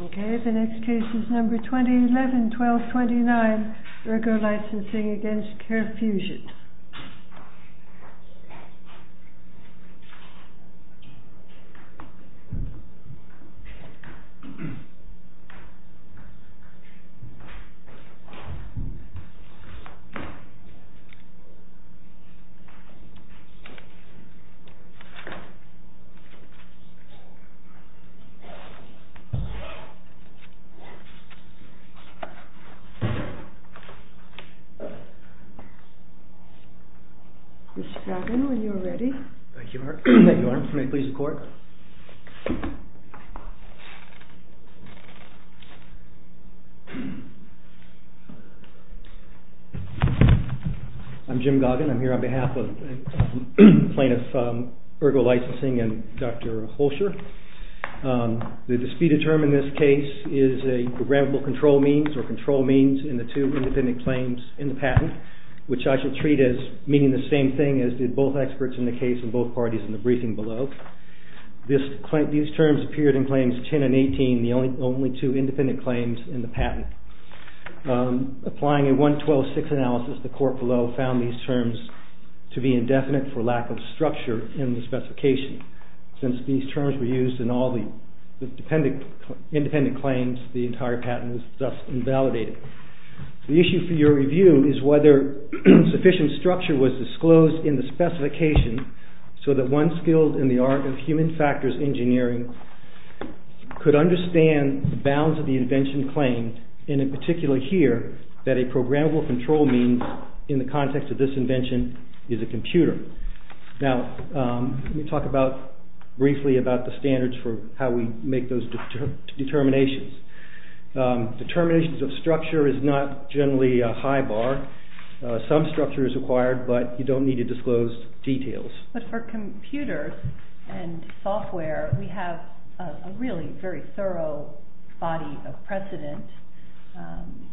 OK, the next case is number 2011-12-29 ERGO LICENSING v. CAREFUSION Mr. Goggin, are you ready? Thank you, ma'am. May I please record? I'm Jim Goggin. I'm here on behalf of plaintiffs ERGO LICENSING and Dr. Holscher. The disputed term in this case is a programmable control means or control means in the two independent claims in the patent, which I should treat as meaning the same thing as did both experts in the case and both parties in the briefing below. These terms appeared in claims 10 and 18, the only two independent claims in the patent. Applying a 112-6 analysis, the court below found these terms to be indefinite for lack of structure in the specification. Since these terms were used in all the independent claims, the entire patent was thus invalidated. The issue for your review is whether sufficient structure was disclosed in the specification so that one skilled in the art of human factors engineering could understand the bounds of the invention claimed, and in particular here, that a programmable control means in the context of this invention is a computer. Now, let me talk briefly about the standards for how we make those determinations. Determinations of structure is not generally a high bar. Some structure is required, but you don't need to disclose details. But for computers and software, we have a really very thorough body of precedent,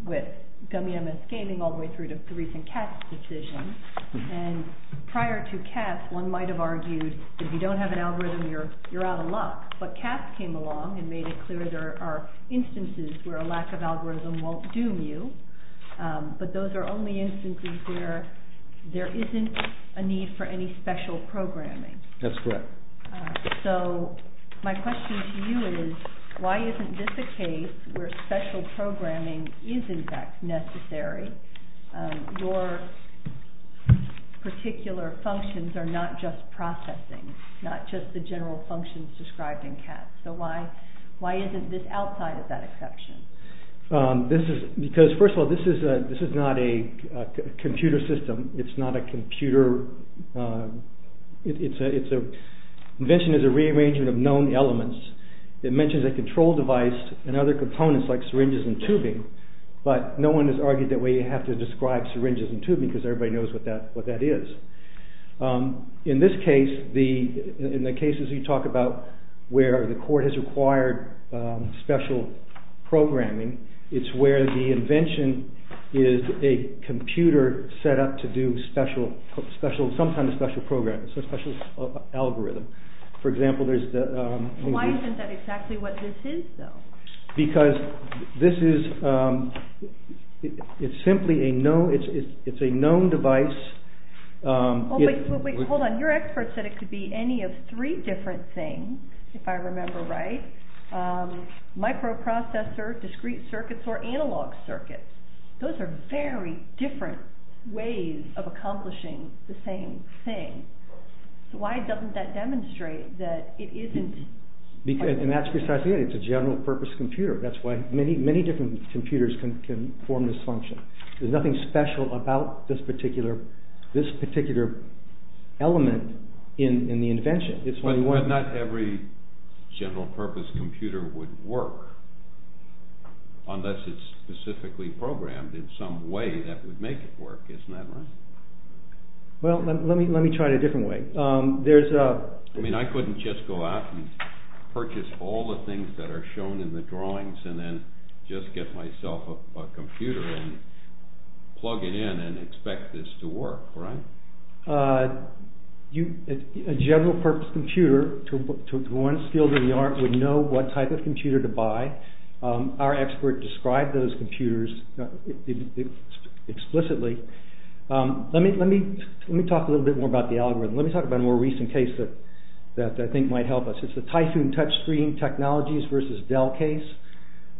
with Gummy MS Gaming all the way through to the recent Katz decision. And prior to Katz, one might have argued that if you don't have an algorithm, you're out of luck. But Katz came along and made it clear there are instances where a lack of algorithm won't doom you, but those are only instances where there isn't a need for any special programming. That's correct. So my question to you is, why isn't this a case where special programming is in fact necessary? Your particular functions are not just processing, not just the general functions described in Katz. So why isn't this outside of that exception? First of all, this is not a computer system. Invention is a rearrangement of known elements. It mentions a control device and other components like syringes and tubing, but no one has argued that we have to describe syringes and tubing because everybody knows what that is. In this case, in the cases you talk about where the court has required special programming, it's where the invention is a computer set up to do some kind of special programming, a special algorithm. Why isn't that exactly what this is, though? Because this is simply a known device. Hold on. Your expert said it could be any of three different things, if I remember right. Microprocessor, discrete circuits, or analog circuits. Those are very different ways of accomplishing the same thing. So why doesn't that demonstrate that it isn't... And that's precisely it. It's a general purpose computer. That's why many different computers can form this function. There's nothing special about this particular element in the invention. But not every general purpose computer would work, unless it's specifically programmed in some way that would make it work. Isn't that right? Well, let me try it a different way. I mean, I couldn't just go out and purchase all the things that are shown in the drawings and then just get myself a computer and plug it in and expect this to work, right? A general purpose computer, to one's skill to the art, would know what type of computer to buy. Our expert described those computers explicitly. Let me talk a little bit more about the algorithm. Let me talk about a more recent case that I think might help us. It's the Typhoon Touchscreen Technologies versus Dell case,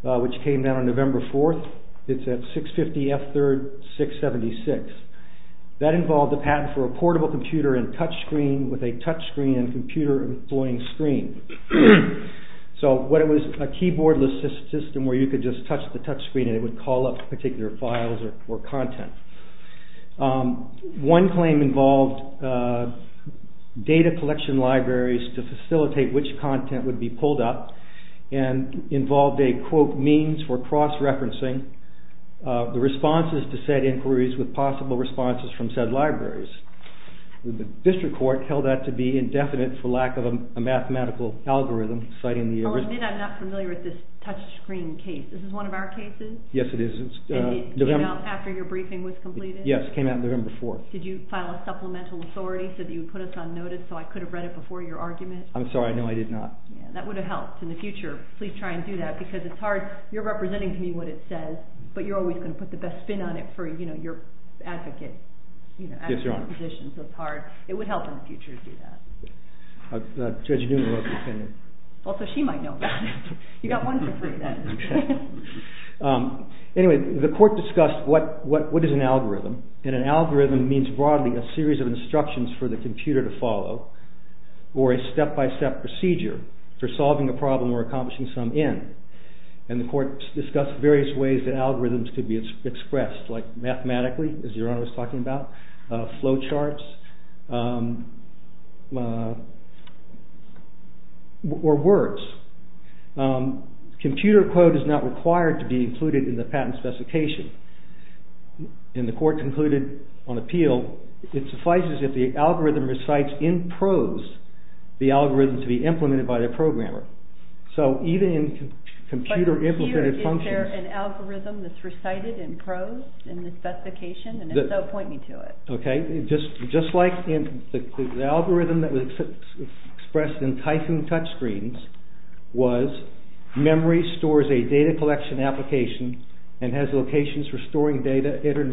which came out on November 4th. It's at 650F3-676. That involved a patent for a portable computer and touchscreen with a touchscreen and computer-employing screen. So what it was, a keyboard-less system where you could just touch the touchscreen and it would call up particular files or content. One claim involved data collection libraries to facilitate which content would be pulled up and involved a, quote, means for cross-referencing the responses to said inquiries with possible responses from said libraries. The district court held that to be indefinite for lack of a mathematical algorithm citing the... Well, I'm not familiar with this touchscreen case. Is this one of our cases? Yes, it is. And it came out after your briefing was completed? Yes, it came out November 4th. Did you file a supplemental authority so that you would put us on notice so I could have read it before your argument? I'm sorry, no, I did not. That would have helped in the future. Please try and do that because it's hard. You're representing to me what it says, but you're always going to put the best spin on it for, you know, your advocate. Yes, Your Honor. It would help in the future to do that. Judge Newman wrote the opinion. Well, so she might know that. You got one for free then. Anyway, the court discussed what is an algorithm, and an algorithm means broadly a series of instructions for the computer to follow or a step-by-step procedure for solving a problem or accomplishing some end. like mathematically, as Your Honor was talking about, flow charts, or words. Computer code is not required to be included in the patent specification. In the court concluded on appeal, it suffices if the algorithm recites in prose the algorithm to be implemented by the programmer. So even in computer-implemented functions... Just like the algorithm that was expressed in Typhoon Touchscreens was memory stores a data collection application and has locations for storing data entered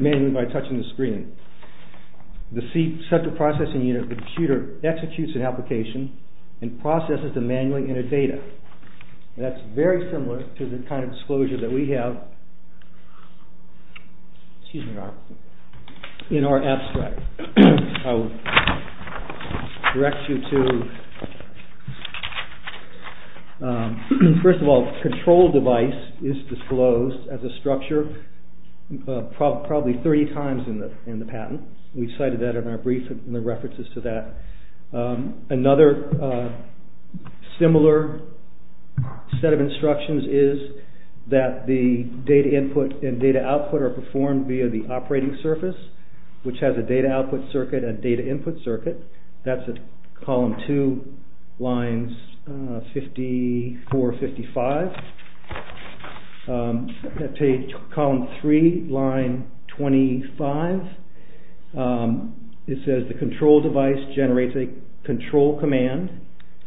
manually by touching the screen. The central processing unit of the computer executes the application and processes the manually entered data. That's very similar to the kind of disclosure that we have in our abstract. I would direct you to... First of all, the control device is disclosed as a structure probably three times in the patent. We cited that in our brief in the references to that. Another similar set of instructions is that the data input and data output are performed via the operating surface which has a data output circuit and a data input circuit. That's at column 2, lines 54-55. Page... column 3, line 25. It says the control device generates a control command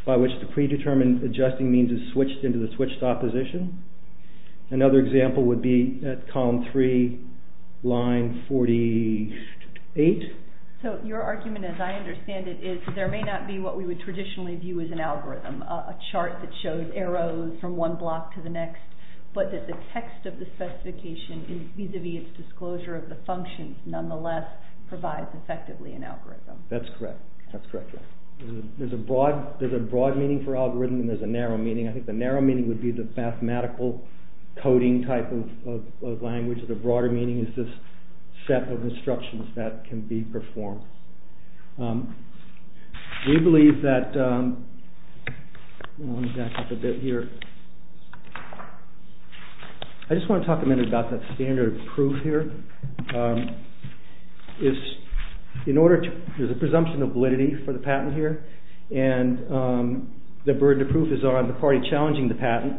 by which the predetermined adjusting means is switched into the switched opposition. Another example would be at column 3, line 48. So your argument as I understand it is there may not be what we would traditionally view as an algorithm a chart that shows arrows from one block to the next but that the text of the specification vis-à-vis its disclosure of the functions nonetheless provides effectively an algorithm. That's correct. There's a broad meaning for algorithm and there's a narrow meaning. I think the narrow meaning would be the mathematical coding type of language. The broader meaning is this set of instructions that can be performed. We believe that... Let me back up a bit here. I just want to talk a minute about that standard of proof here. There's a presumption of validity for the patent here and the burden of proof is on the party challenging the patent.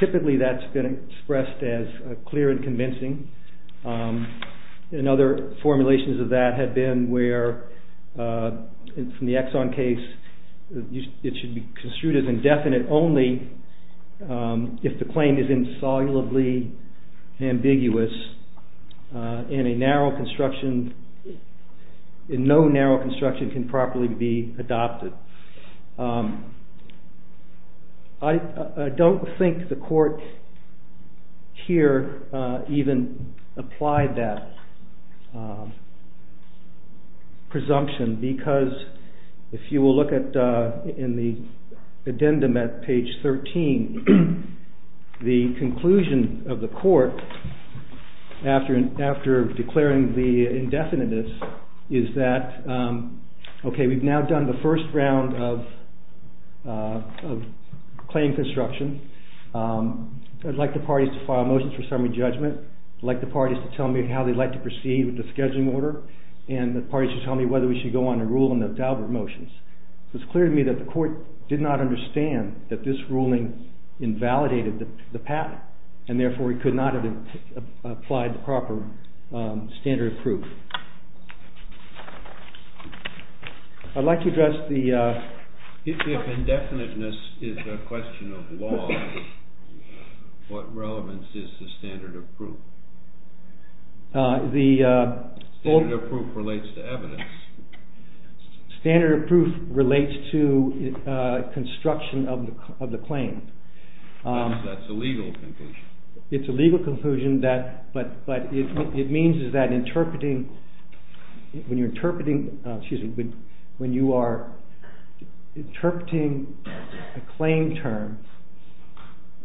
Typically that's been expressed as clear and convincing and other formulations of that have been where in the Exxon case it should be construed as indefinite only if the claim is insolubly ambiguous and a narrow construction... No narrow construction can properly be adopted. I don't think the court here even applied that presumption because if you will look in the addendum at page 13 the conclusion of the court after declaring the indefiniteness is that we've now done the first round of claim construction. I'd like the parties to file motions for summary judgment. I'd like the parties to tell me how they'd like to proceed with the scheduling order and the parties to tell me whether we should go on a rule in the Daubert motions. It was clear to me that the court did not understand that this ruling invalidated the patent and therefore we could not have applied the proper standard of proof. I'd like to address the... If indefiniteness is a question of law what relevance is the standard of proof? Standard of proof relates to evidence. Standard of proof relates to construction of the claim. That's a legal conclusion. It's a legal conclusion but it means that when you are interpreting a claim term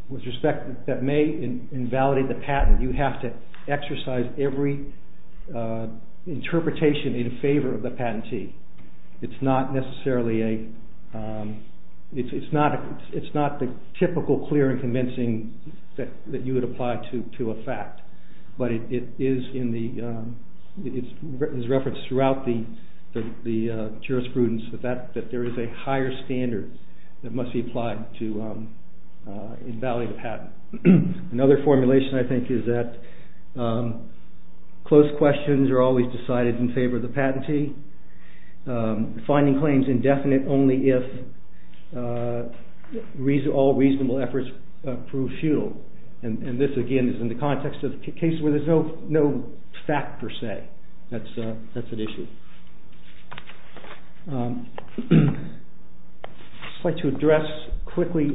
with respect that may invalidate the patent you have to exercise every interpretation in favor of the patentee. It's not necessarily a... It's not the typical clear and convincing that you would apply to a fact but it is referenced throughout the jurisprudence that there is a higher standard that must be applied to invalidate the patent. Another formulation I think is that close questions are always decided in favor of the patentee finding claims indefinite only if all reasonable efforts prove futile and this again is in the context of cases where there is no fact per se. That's an issue. I'd like to address quickly...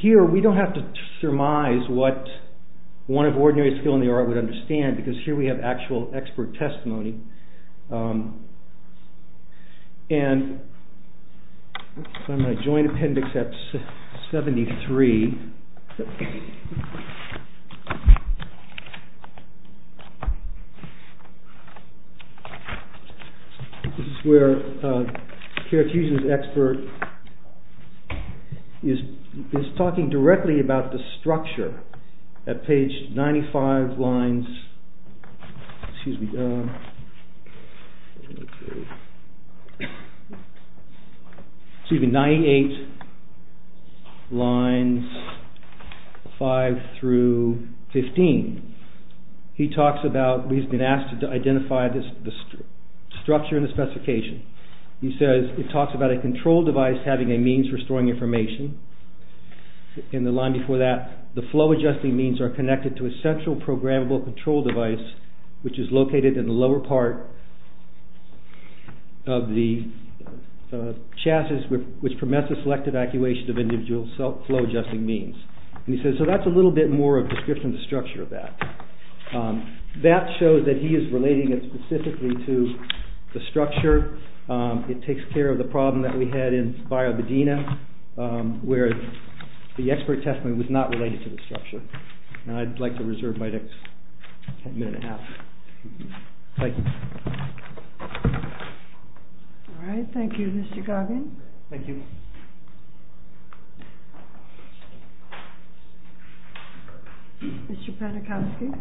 Here we don't have to surmise what one of ordinary skill in the art would understand because here we have actual expert testimony. I'm going to join appendix at 73. This is where Kierkegaard's expert is talking directly about the structure at page 95 lines... excuse me, 98 lines 5 through 15. He talks about, he's been asked to identify the structure and the specification. He says, he talks about a control device having a means for storing information in the line before that. The flow-adjusting means are connected to a central programmable control device which is located in the lower part of the chassis which permits the selected actuation of individual flow-adjusting means. He says, so that's a little bit more of a description of the structure of that. That shows that he is relating it specifically to the structure. It takes care of the problem that we had in Baya Bedina where the expert testimony was not related to the structure. I'd like to reserve my next minute and a half. Thank you. Alright, thank you Mr. Goggin. Thank you. Mr. Padachowski.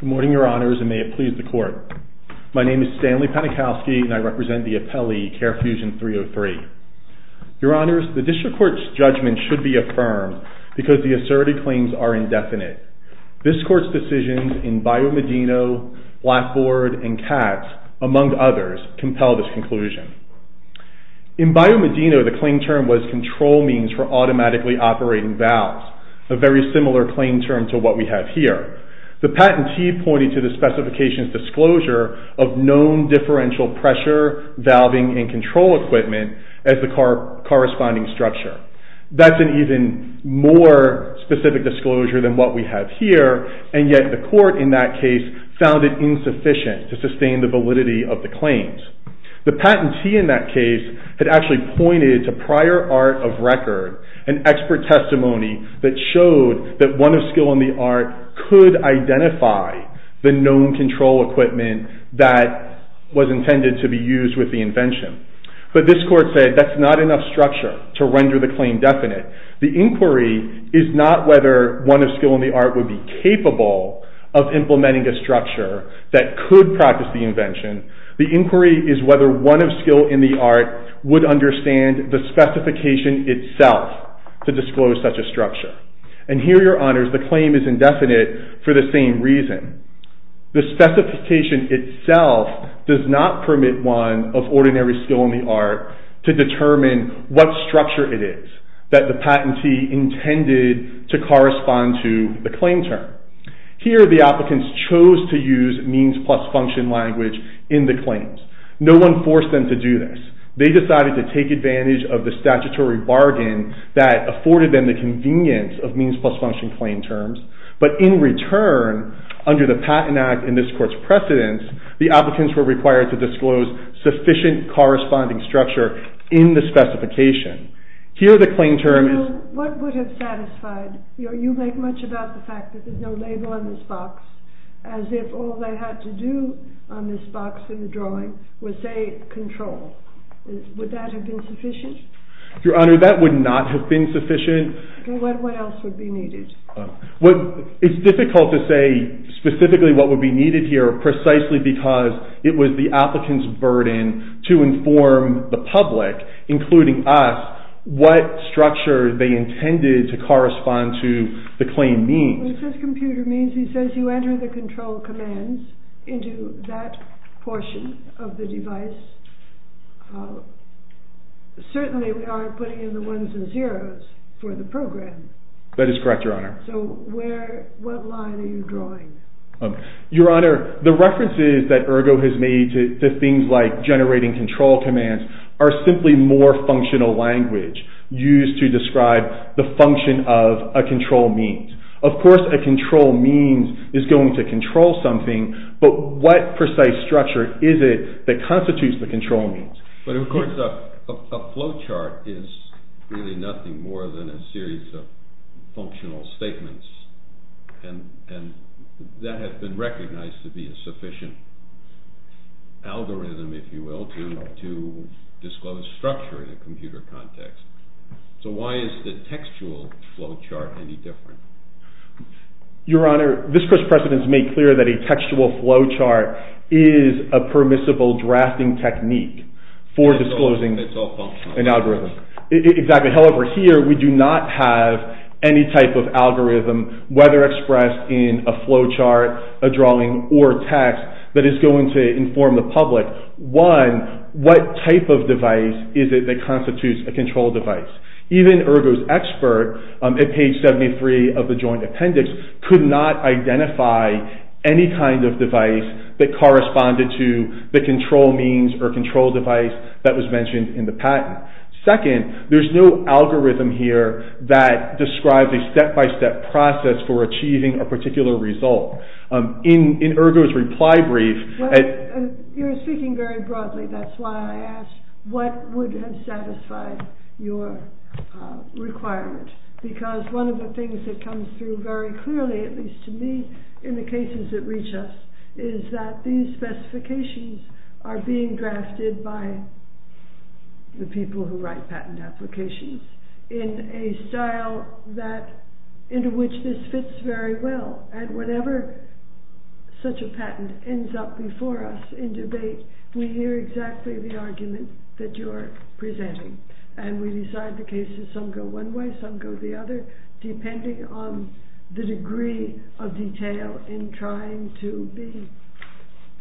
Good morning, your honors, and may it please the court. My name is Stanley Padachowski and I represent the appellee CARE Fusion 303. Your honors, the district court's judgment should be affirmed because the asserted claims are indefinite. This court's decisions in Baya Bedina, Blackboard, and CATS, among others, compel this conclusion. In Baya Bedina, the claim term was control means for automatically operating valves, a very similar claim term to what we have here. The patentee pointed to the specification's disclosure of known differential pressure valving and control equipment as the corresponding structure. That's an even more specific disclosure than what we have here, and yet the court in that case found it insufficient to sustain the validity of the claims. The patentee in that case had actually pointed to prior art of record, an expert testimony that showed that one of skill in the art could identify the known control equipment that was intended to be used with the invention. But this court said that's not enough structure to render the claim definite. The inquiry is not whether one of skill in the art would be capable of implementing a structure that could practice the invention. The inquiry is whether one of skill in the art would understand the specification itself to disclose such a structure. And here, your honors, the claim is indefinite for the same reason. The specification itself does not permit one of ordinary skill in the art to determine what structure it is that the patentee intended to correspond to the claim term. Here, the applicants chose to use means plus function language in the claims. No one forced them to do this. They decided to take advantage of the statutory bargain that afforded them the convenience of means plus function claim terms. But in return, under the Patent Act and this court's precedence, the applicants were required to disclose sufficient corresponding structure in the specification. Here, the claim term is... What would have satisfied... You make much about the fact that there's no label on this box as if all they had to do on this box in the drawing was, say, control. Would that have been sufficient? Your honor, that would not have been sufficient. What else would be needed? It's difficult to say specifically what would be needed here precisely because it was the applicant's burden to inform the public, including us, what structure they intended to correspond to the claim means. It says computer means. It says you enter the control commands into that portion of the device. Certainly we aren't putting in the ones and zeros for the program. That is correct, your honor. So what line are you drawing? Your honor, the references that Ergo has made to things like generating control commands are simply more functional language used to describe the function of a control means. Of course, a control means is going to control something, but what precise structure is it that constitutes the control means? But, of course, a flowchart is really nothing more than a series of functional statements, and that has been recognized to be a sufficient algorithm, if you will, to disclose structure in a computer context. So why is the textual flowchart any different? Your honor, this press president has made clear that a textual flowchart is a permissible drafting technique for disclosing an algorithm. However, here we do not have any type of algorithm, whether expressed in a flowchart, a drawing, or text, that is going to inform the public. One, what type of device is it that constitutes a control device? Even Ergo's expert, at page 73 of the joint appendix, could not identify any kind of device that corresponded to the control means or control device that was mentioned in the patent. Second, there's no algorithm here that describes a step-by-step process for achieving a particular result. In Ergo's reply brief... You're speaking very broadly, that's why I asked. What would have satisfied your requirement? Because one of the things that comes through very clearly, at least to me, in the cases that reach us, is that these specifications are being drafted by the people who write patent applications in a style into which this fits very well. We hear exactly the argument that you are presenting, and we decide the cases, some go one way, some go the other, depending on the degree of detail in trying to be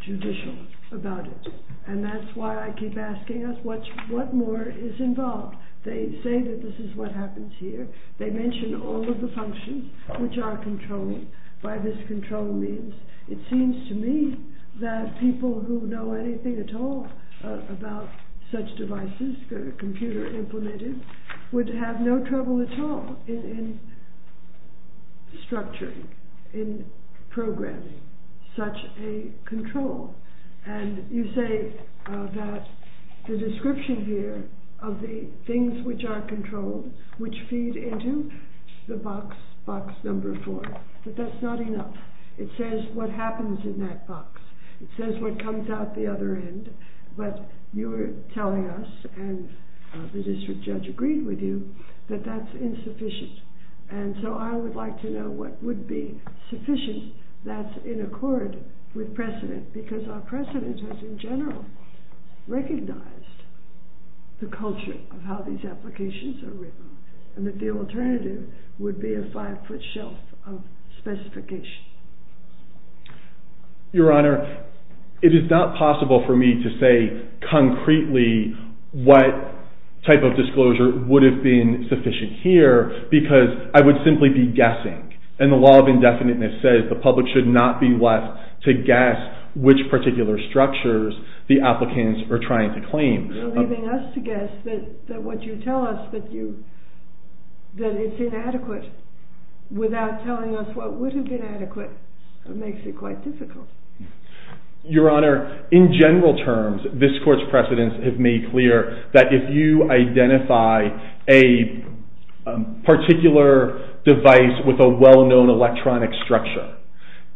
judicial about it. And that's why I keep asking us, what more is involved? They say that this is what happens here. They mention all of the functions which are controlled by this control means. It seems to me that people who know anything at all about such devices, the computer implemented, would have no trouble at all in structuring, in programming such a control. And you say that the description here of the things which are controlled, which feed into the box number four, but that's not enough. It says what happens in that box. It says what comes out the other end, but you're telling us, and the district judge agreed with you, that that's insufficient. And so I would like to know what would be sufficient that's in accord with precedent, because our precedent has, in general, recognized the culture of how these applications are written, and that the alternative would be a five-foot shelf of specification. Your Honor, it is not possible for me to say concretely what type of disclosure would have been sufficient here, because I would simply be guessing. And the law of indefiniteness says the public should not be left to guess that what you tell us that it's inadequate without telling us what would have been adequate makes it quite difficult. Your Honor, in general terms, this Court's precedents have made clear that if you identify a particular device with a well-known electronic structure,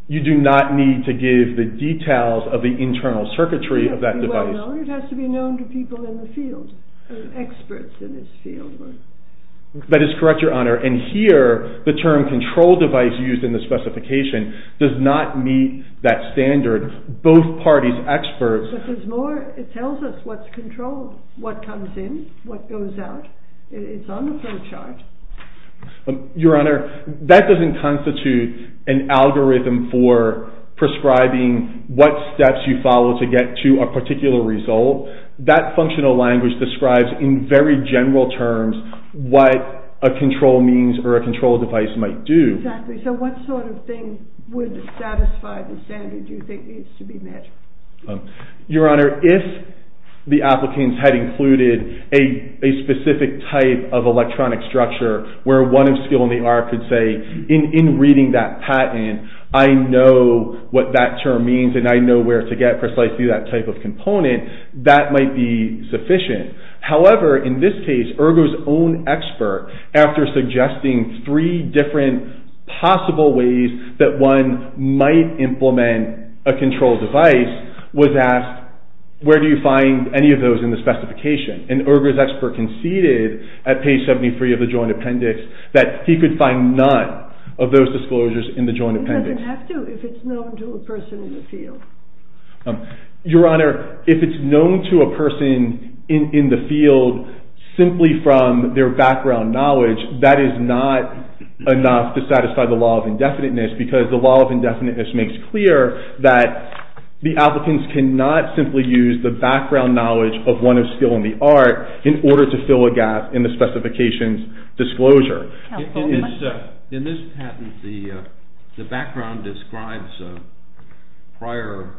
you do not need to give the details of the internal circuitry of that device. No, it has to be known to people in the field, experts in this field. That is correct, Your Honor. And here, the term control device used in the specification does not meet that standard. Both parties, experts... But there's more. It tells us what's controlled, what comes in, what goes out. It's on the flowchart. Your Honor, that doesn't constitute an algorithm for prescribing what steps you follow to get to a particular result. That functional language describes in very general terms what a control means or a control device might do. Exactly. So what sort of thing would satisfy the standard you think needs to be met? Your Honor, if the applicants had included a specific type of electronic structure where one of skill in the art could say, in reading that patent, I know what that term means and I know where to get precisely that type of component, that might be sufficient. However, in this case, Ergo's own expert, after suggesting three different possible ways that one might implement a control device, was asked, where do you find any of those in the specification? And Ergo's expert conceded at page 73 of the Joint Appendix that he could find none of those disclosures in the Joint Appendix. He doesn't have to if it's known to a person in the field. Your Honor, if it's known to a person in the field simply from their background knowledge, that is not enough to satisfy the law of indefiniteness because the law of indefiniteness makes clear that the applicants cannot simply use the background knowledge of one of skill in the art in order to fill a gap in the specification's disclosure. In this patent, the background describes a prior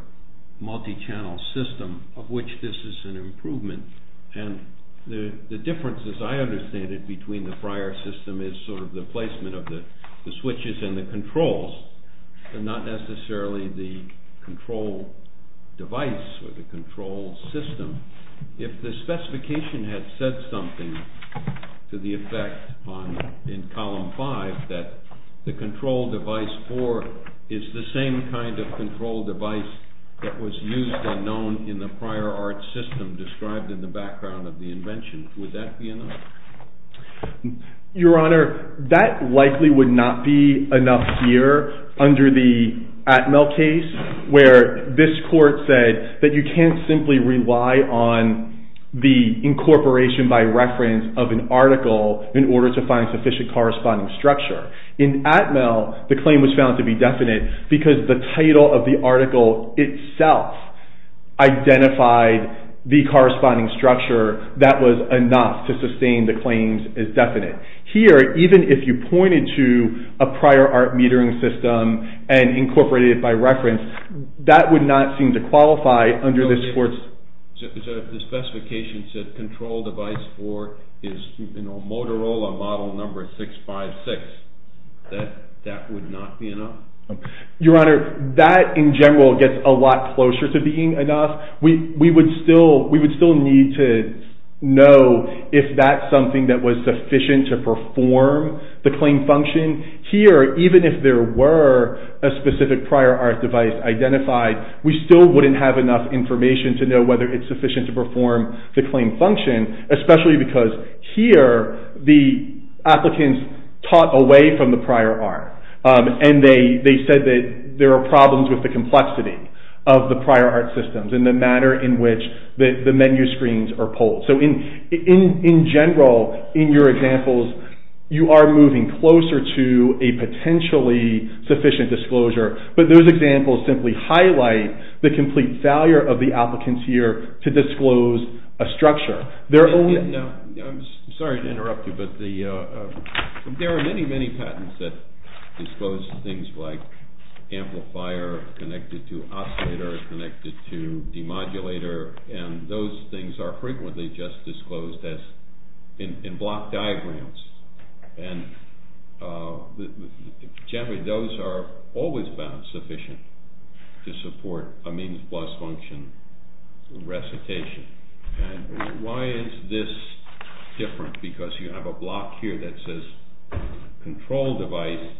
multi-channel system of which this is an improvement and the difference, as I understand it, between the prior system is sort of the placement of the switches and the controls and not necessarily the control device or the control system. If the specification had said something to the effect in column 5 that the control device 4 is the same kind of control device that was used and known in the prior art system described in the background of the invention, would that be enough? Your Honor, that likely would not be enough here under the Atmel case where this court said that you can't simply rely on the incorporation by reference of an article in order to find sufficient corresponding structure. In Atmel, the claim was found to be definite because the title of the article itself identified the corresponding structure that was enough to sustain the claims as definite. Here, even if you pointed to a prior art metering system and incorporated it by reference, that would not seem to qualify under this court's... So if the specification said control device 4 is Motorola model number 656, that would not be enough? Your Honor, that in general gets a lot closer to being enough. We would still need to know if that's something that was sufficient to perform the claim function. Here, even if there were a specific prior art device identified, we still wouldn't have enough information to know whether it's sufficient to perform the claim function, especially because here the applicants taught away from the prior art and they said that there are problems with the complexity of the prior art systems and the manner in which the menu screens are pulled. In general, in your examples, you are moving closer to a potentially sufficient disclosure, but those examples simply highlight the complete failure of the applicants here to disclose a structure. I'm sorry to interrupt you, but there are many, many patents that disclose things like amplifier connected to oscillator connected to demodulator, and those things are frequently just disclosed in block diagrams. Generally, those are always found sufficient to support a means-plus function recitation. Why is this different? Because you have a block here that says control device,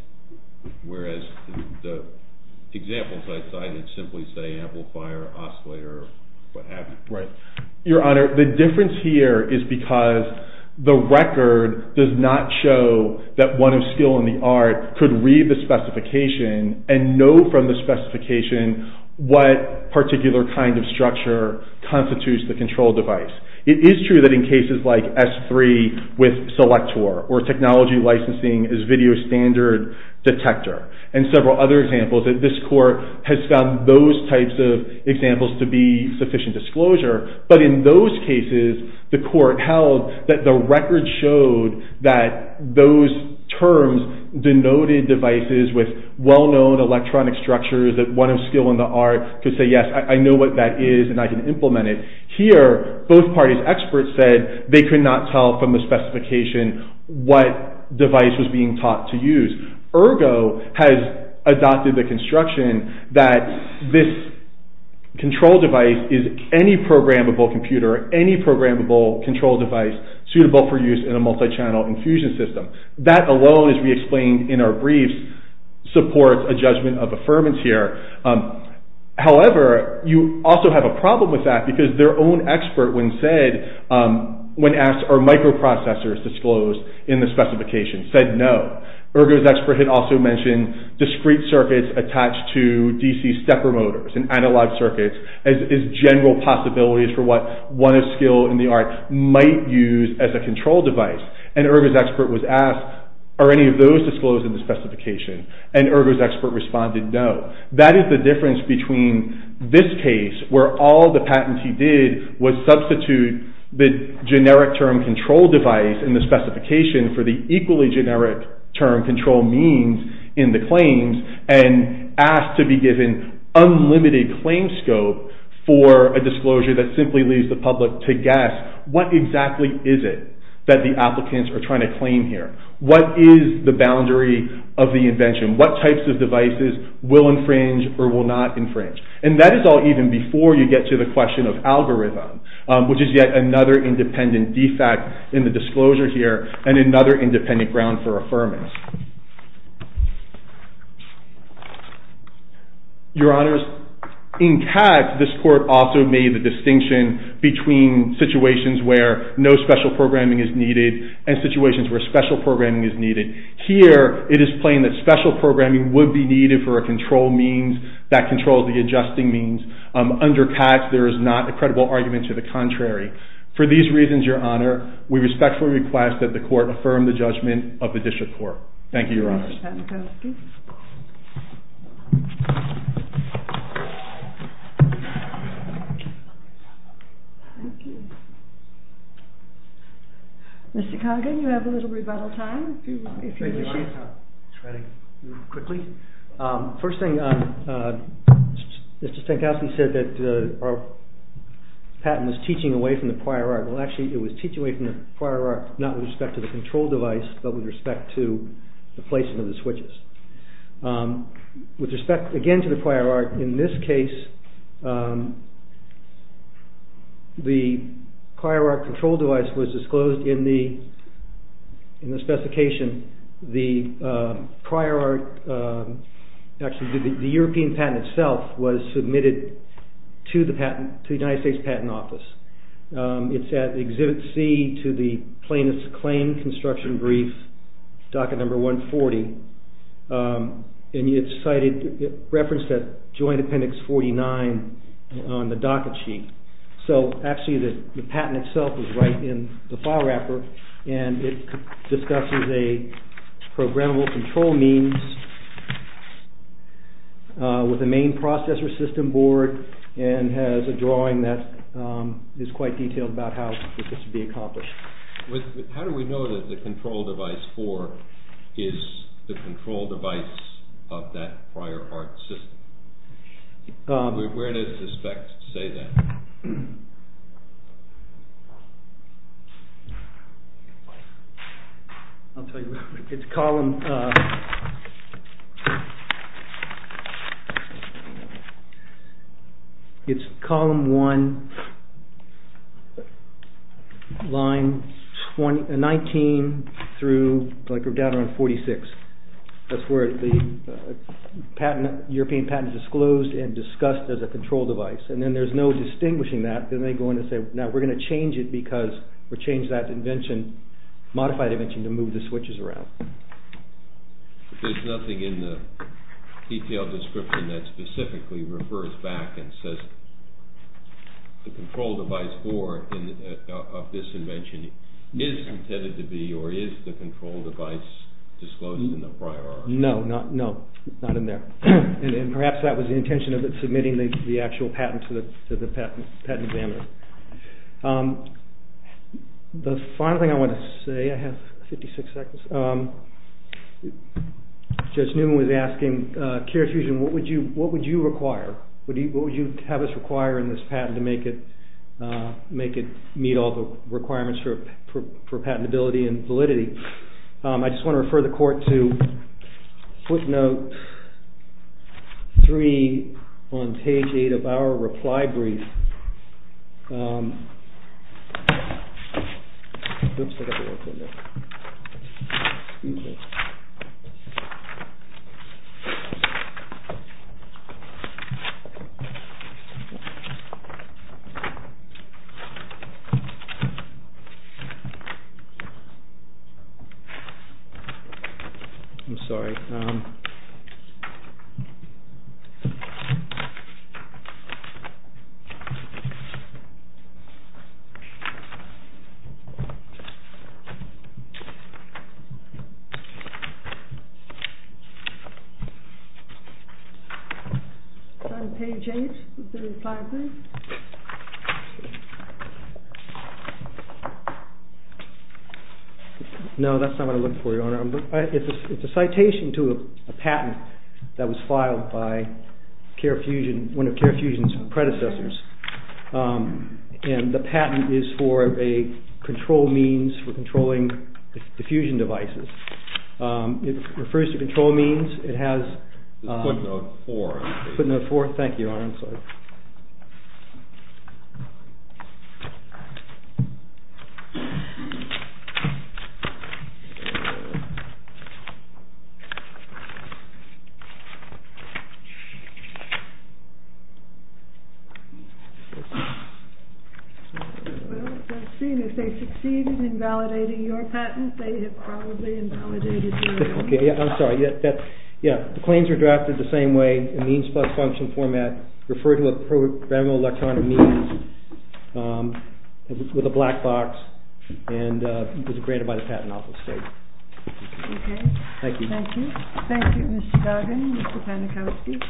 whereas the examples I cited simply say amplifier, oscillator, or what have you. Your Honor, the difference here is because the record does not show that one of skill in the art could read the specification and know from the specification what particular kind of structure constitutes the control device. It is true that in cases like S3 with Selector or technology licensing as video standard detector and several other examples, that this court has found those types of examples to be sufficient disclosure. But in those cases, the court held that the record showed that those terms denoted devices with well-known electronic structures that one of skill in the art could say, yes, I know what that is and I can implement it. Here, both parties' experts said they could not tell from the specification what device was being taught to use. Ergo has adopted the construction that this control device is any programmable computer, any programmable control device suitable for use in a multi-channel infusion system. That alone, as we explained in our briefs, supports a judgment of affirmance here. However, you also have a problem with that because their own expert when asked are microprocessors disclosed in the specification said no. Ergo's expert had also mentioned discrete circuits attached to DC stepper motors and analog circuits as general possibilities for what one of skill in the art might use as a control device. And Ergo's expert was asked are any of those disclosed in the specification? And Ergo's expert responded no. That is the difference between this case where all the patentee did was substitute the generic term control device in the specification for the equally generic term control means in the claims and asked to be given unlimited claim scope for a disclosure that simply leaves the public to guess what exactly is it that the applicants are trying to claim here. What is the boundary of the invention? What types of devices will infringe or will not infringe? And that is all even before you get to the question of algorithm which is yet another independent defect in the disclosure here and another independent ground for affirmance. Your Honor, in Katz this court also made the distinction between situations where no special programming is needed and situations where special programming is needed. Here it is plain that special programming would be needed for a control means that controls the adjusting means. Under Katz there is not a credible argument to the contrary. For these reasons, Your Honor, we respectfully request that the court affirm the judgment of the district court. Thank you, Your Honor. Mr. Kagan, you have a little rebuttal time. First thing, Mr. Stankowski said that our patent was teaching away from the prior article. Actually, it was teaching away from the prior article not with respect to the control device but with respect to the placing of the switches. With respect again to the prior article, in this case the prior article control device was disclosed in the specification. The prior article, actually the European patent itself was submitted to the United States Patent Office. It's at Exhibit C to the plaintiff's claim construction brief docket number 140. It's referenced at joint appendix 49 on the docket sheet. Actually, the patent itself is right in the file wrapper and it discusses a programmable control means with the main processor system board and has a drawing that is quite detailed about how this would be accomplished. How do we know that the control device 4 is the control device of that prior art system? Where does the spec say that? I'll tell you. It's column 1, line 19 through 46. That's where the European patent is disclosed and discussed as a control device. Then there's no distinguishing that. Then they go in and say, now we're going to change it because we changed that invention, modified invention to move the switches around. There's nothing in the detailed description that specifically refers back and says the control device 4 of this invention is intended to be or is the control device disclosed in the prior article? No, not in there. Perhaps that was the intention of submitting the actual patent to the patent examiner. The final thing I want to say, I have 56 seconds. Judge Newman was asking, Care Fusion, what would you require? What would you have us require in this patent to make it meet all the requirements for patentability and validity? I just want to refer the court to footnote 3 on page 8 of our reply brief. Oops, I got the wrong thing there. I'm sorry. Is that on page 8 of the reply brief? No, that's not what I'm looking for, Your Honor. It's a citation to a patent that was filed by one of Care Fusion's predecessors. by one of Care Fusion's predecessors. The patent is for a control means for controlling diffusion devices. It refers to control means. It has footnote 4. Thank you, Your Honor. Well, it does seem if they succeeded in validating your patent, they have probably invalidated yours. I'm sorry. The claims were drafted the same way, in means plus function format, referred to a programmable electronic means with a black box, and was granted by the Patent Office State. Okay. Thank you. Thank you. Thank you, Mr. Duggan, Mr. Panikowsky.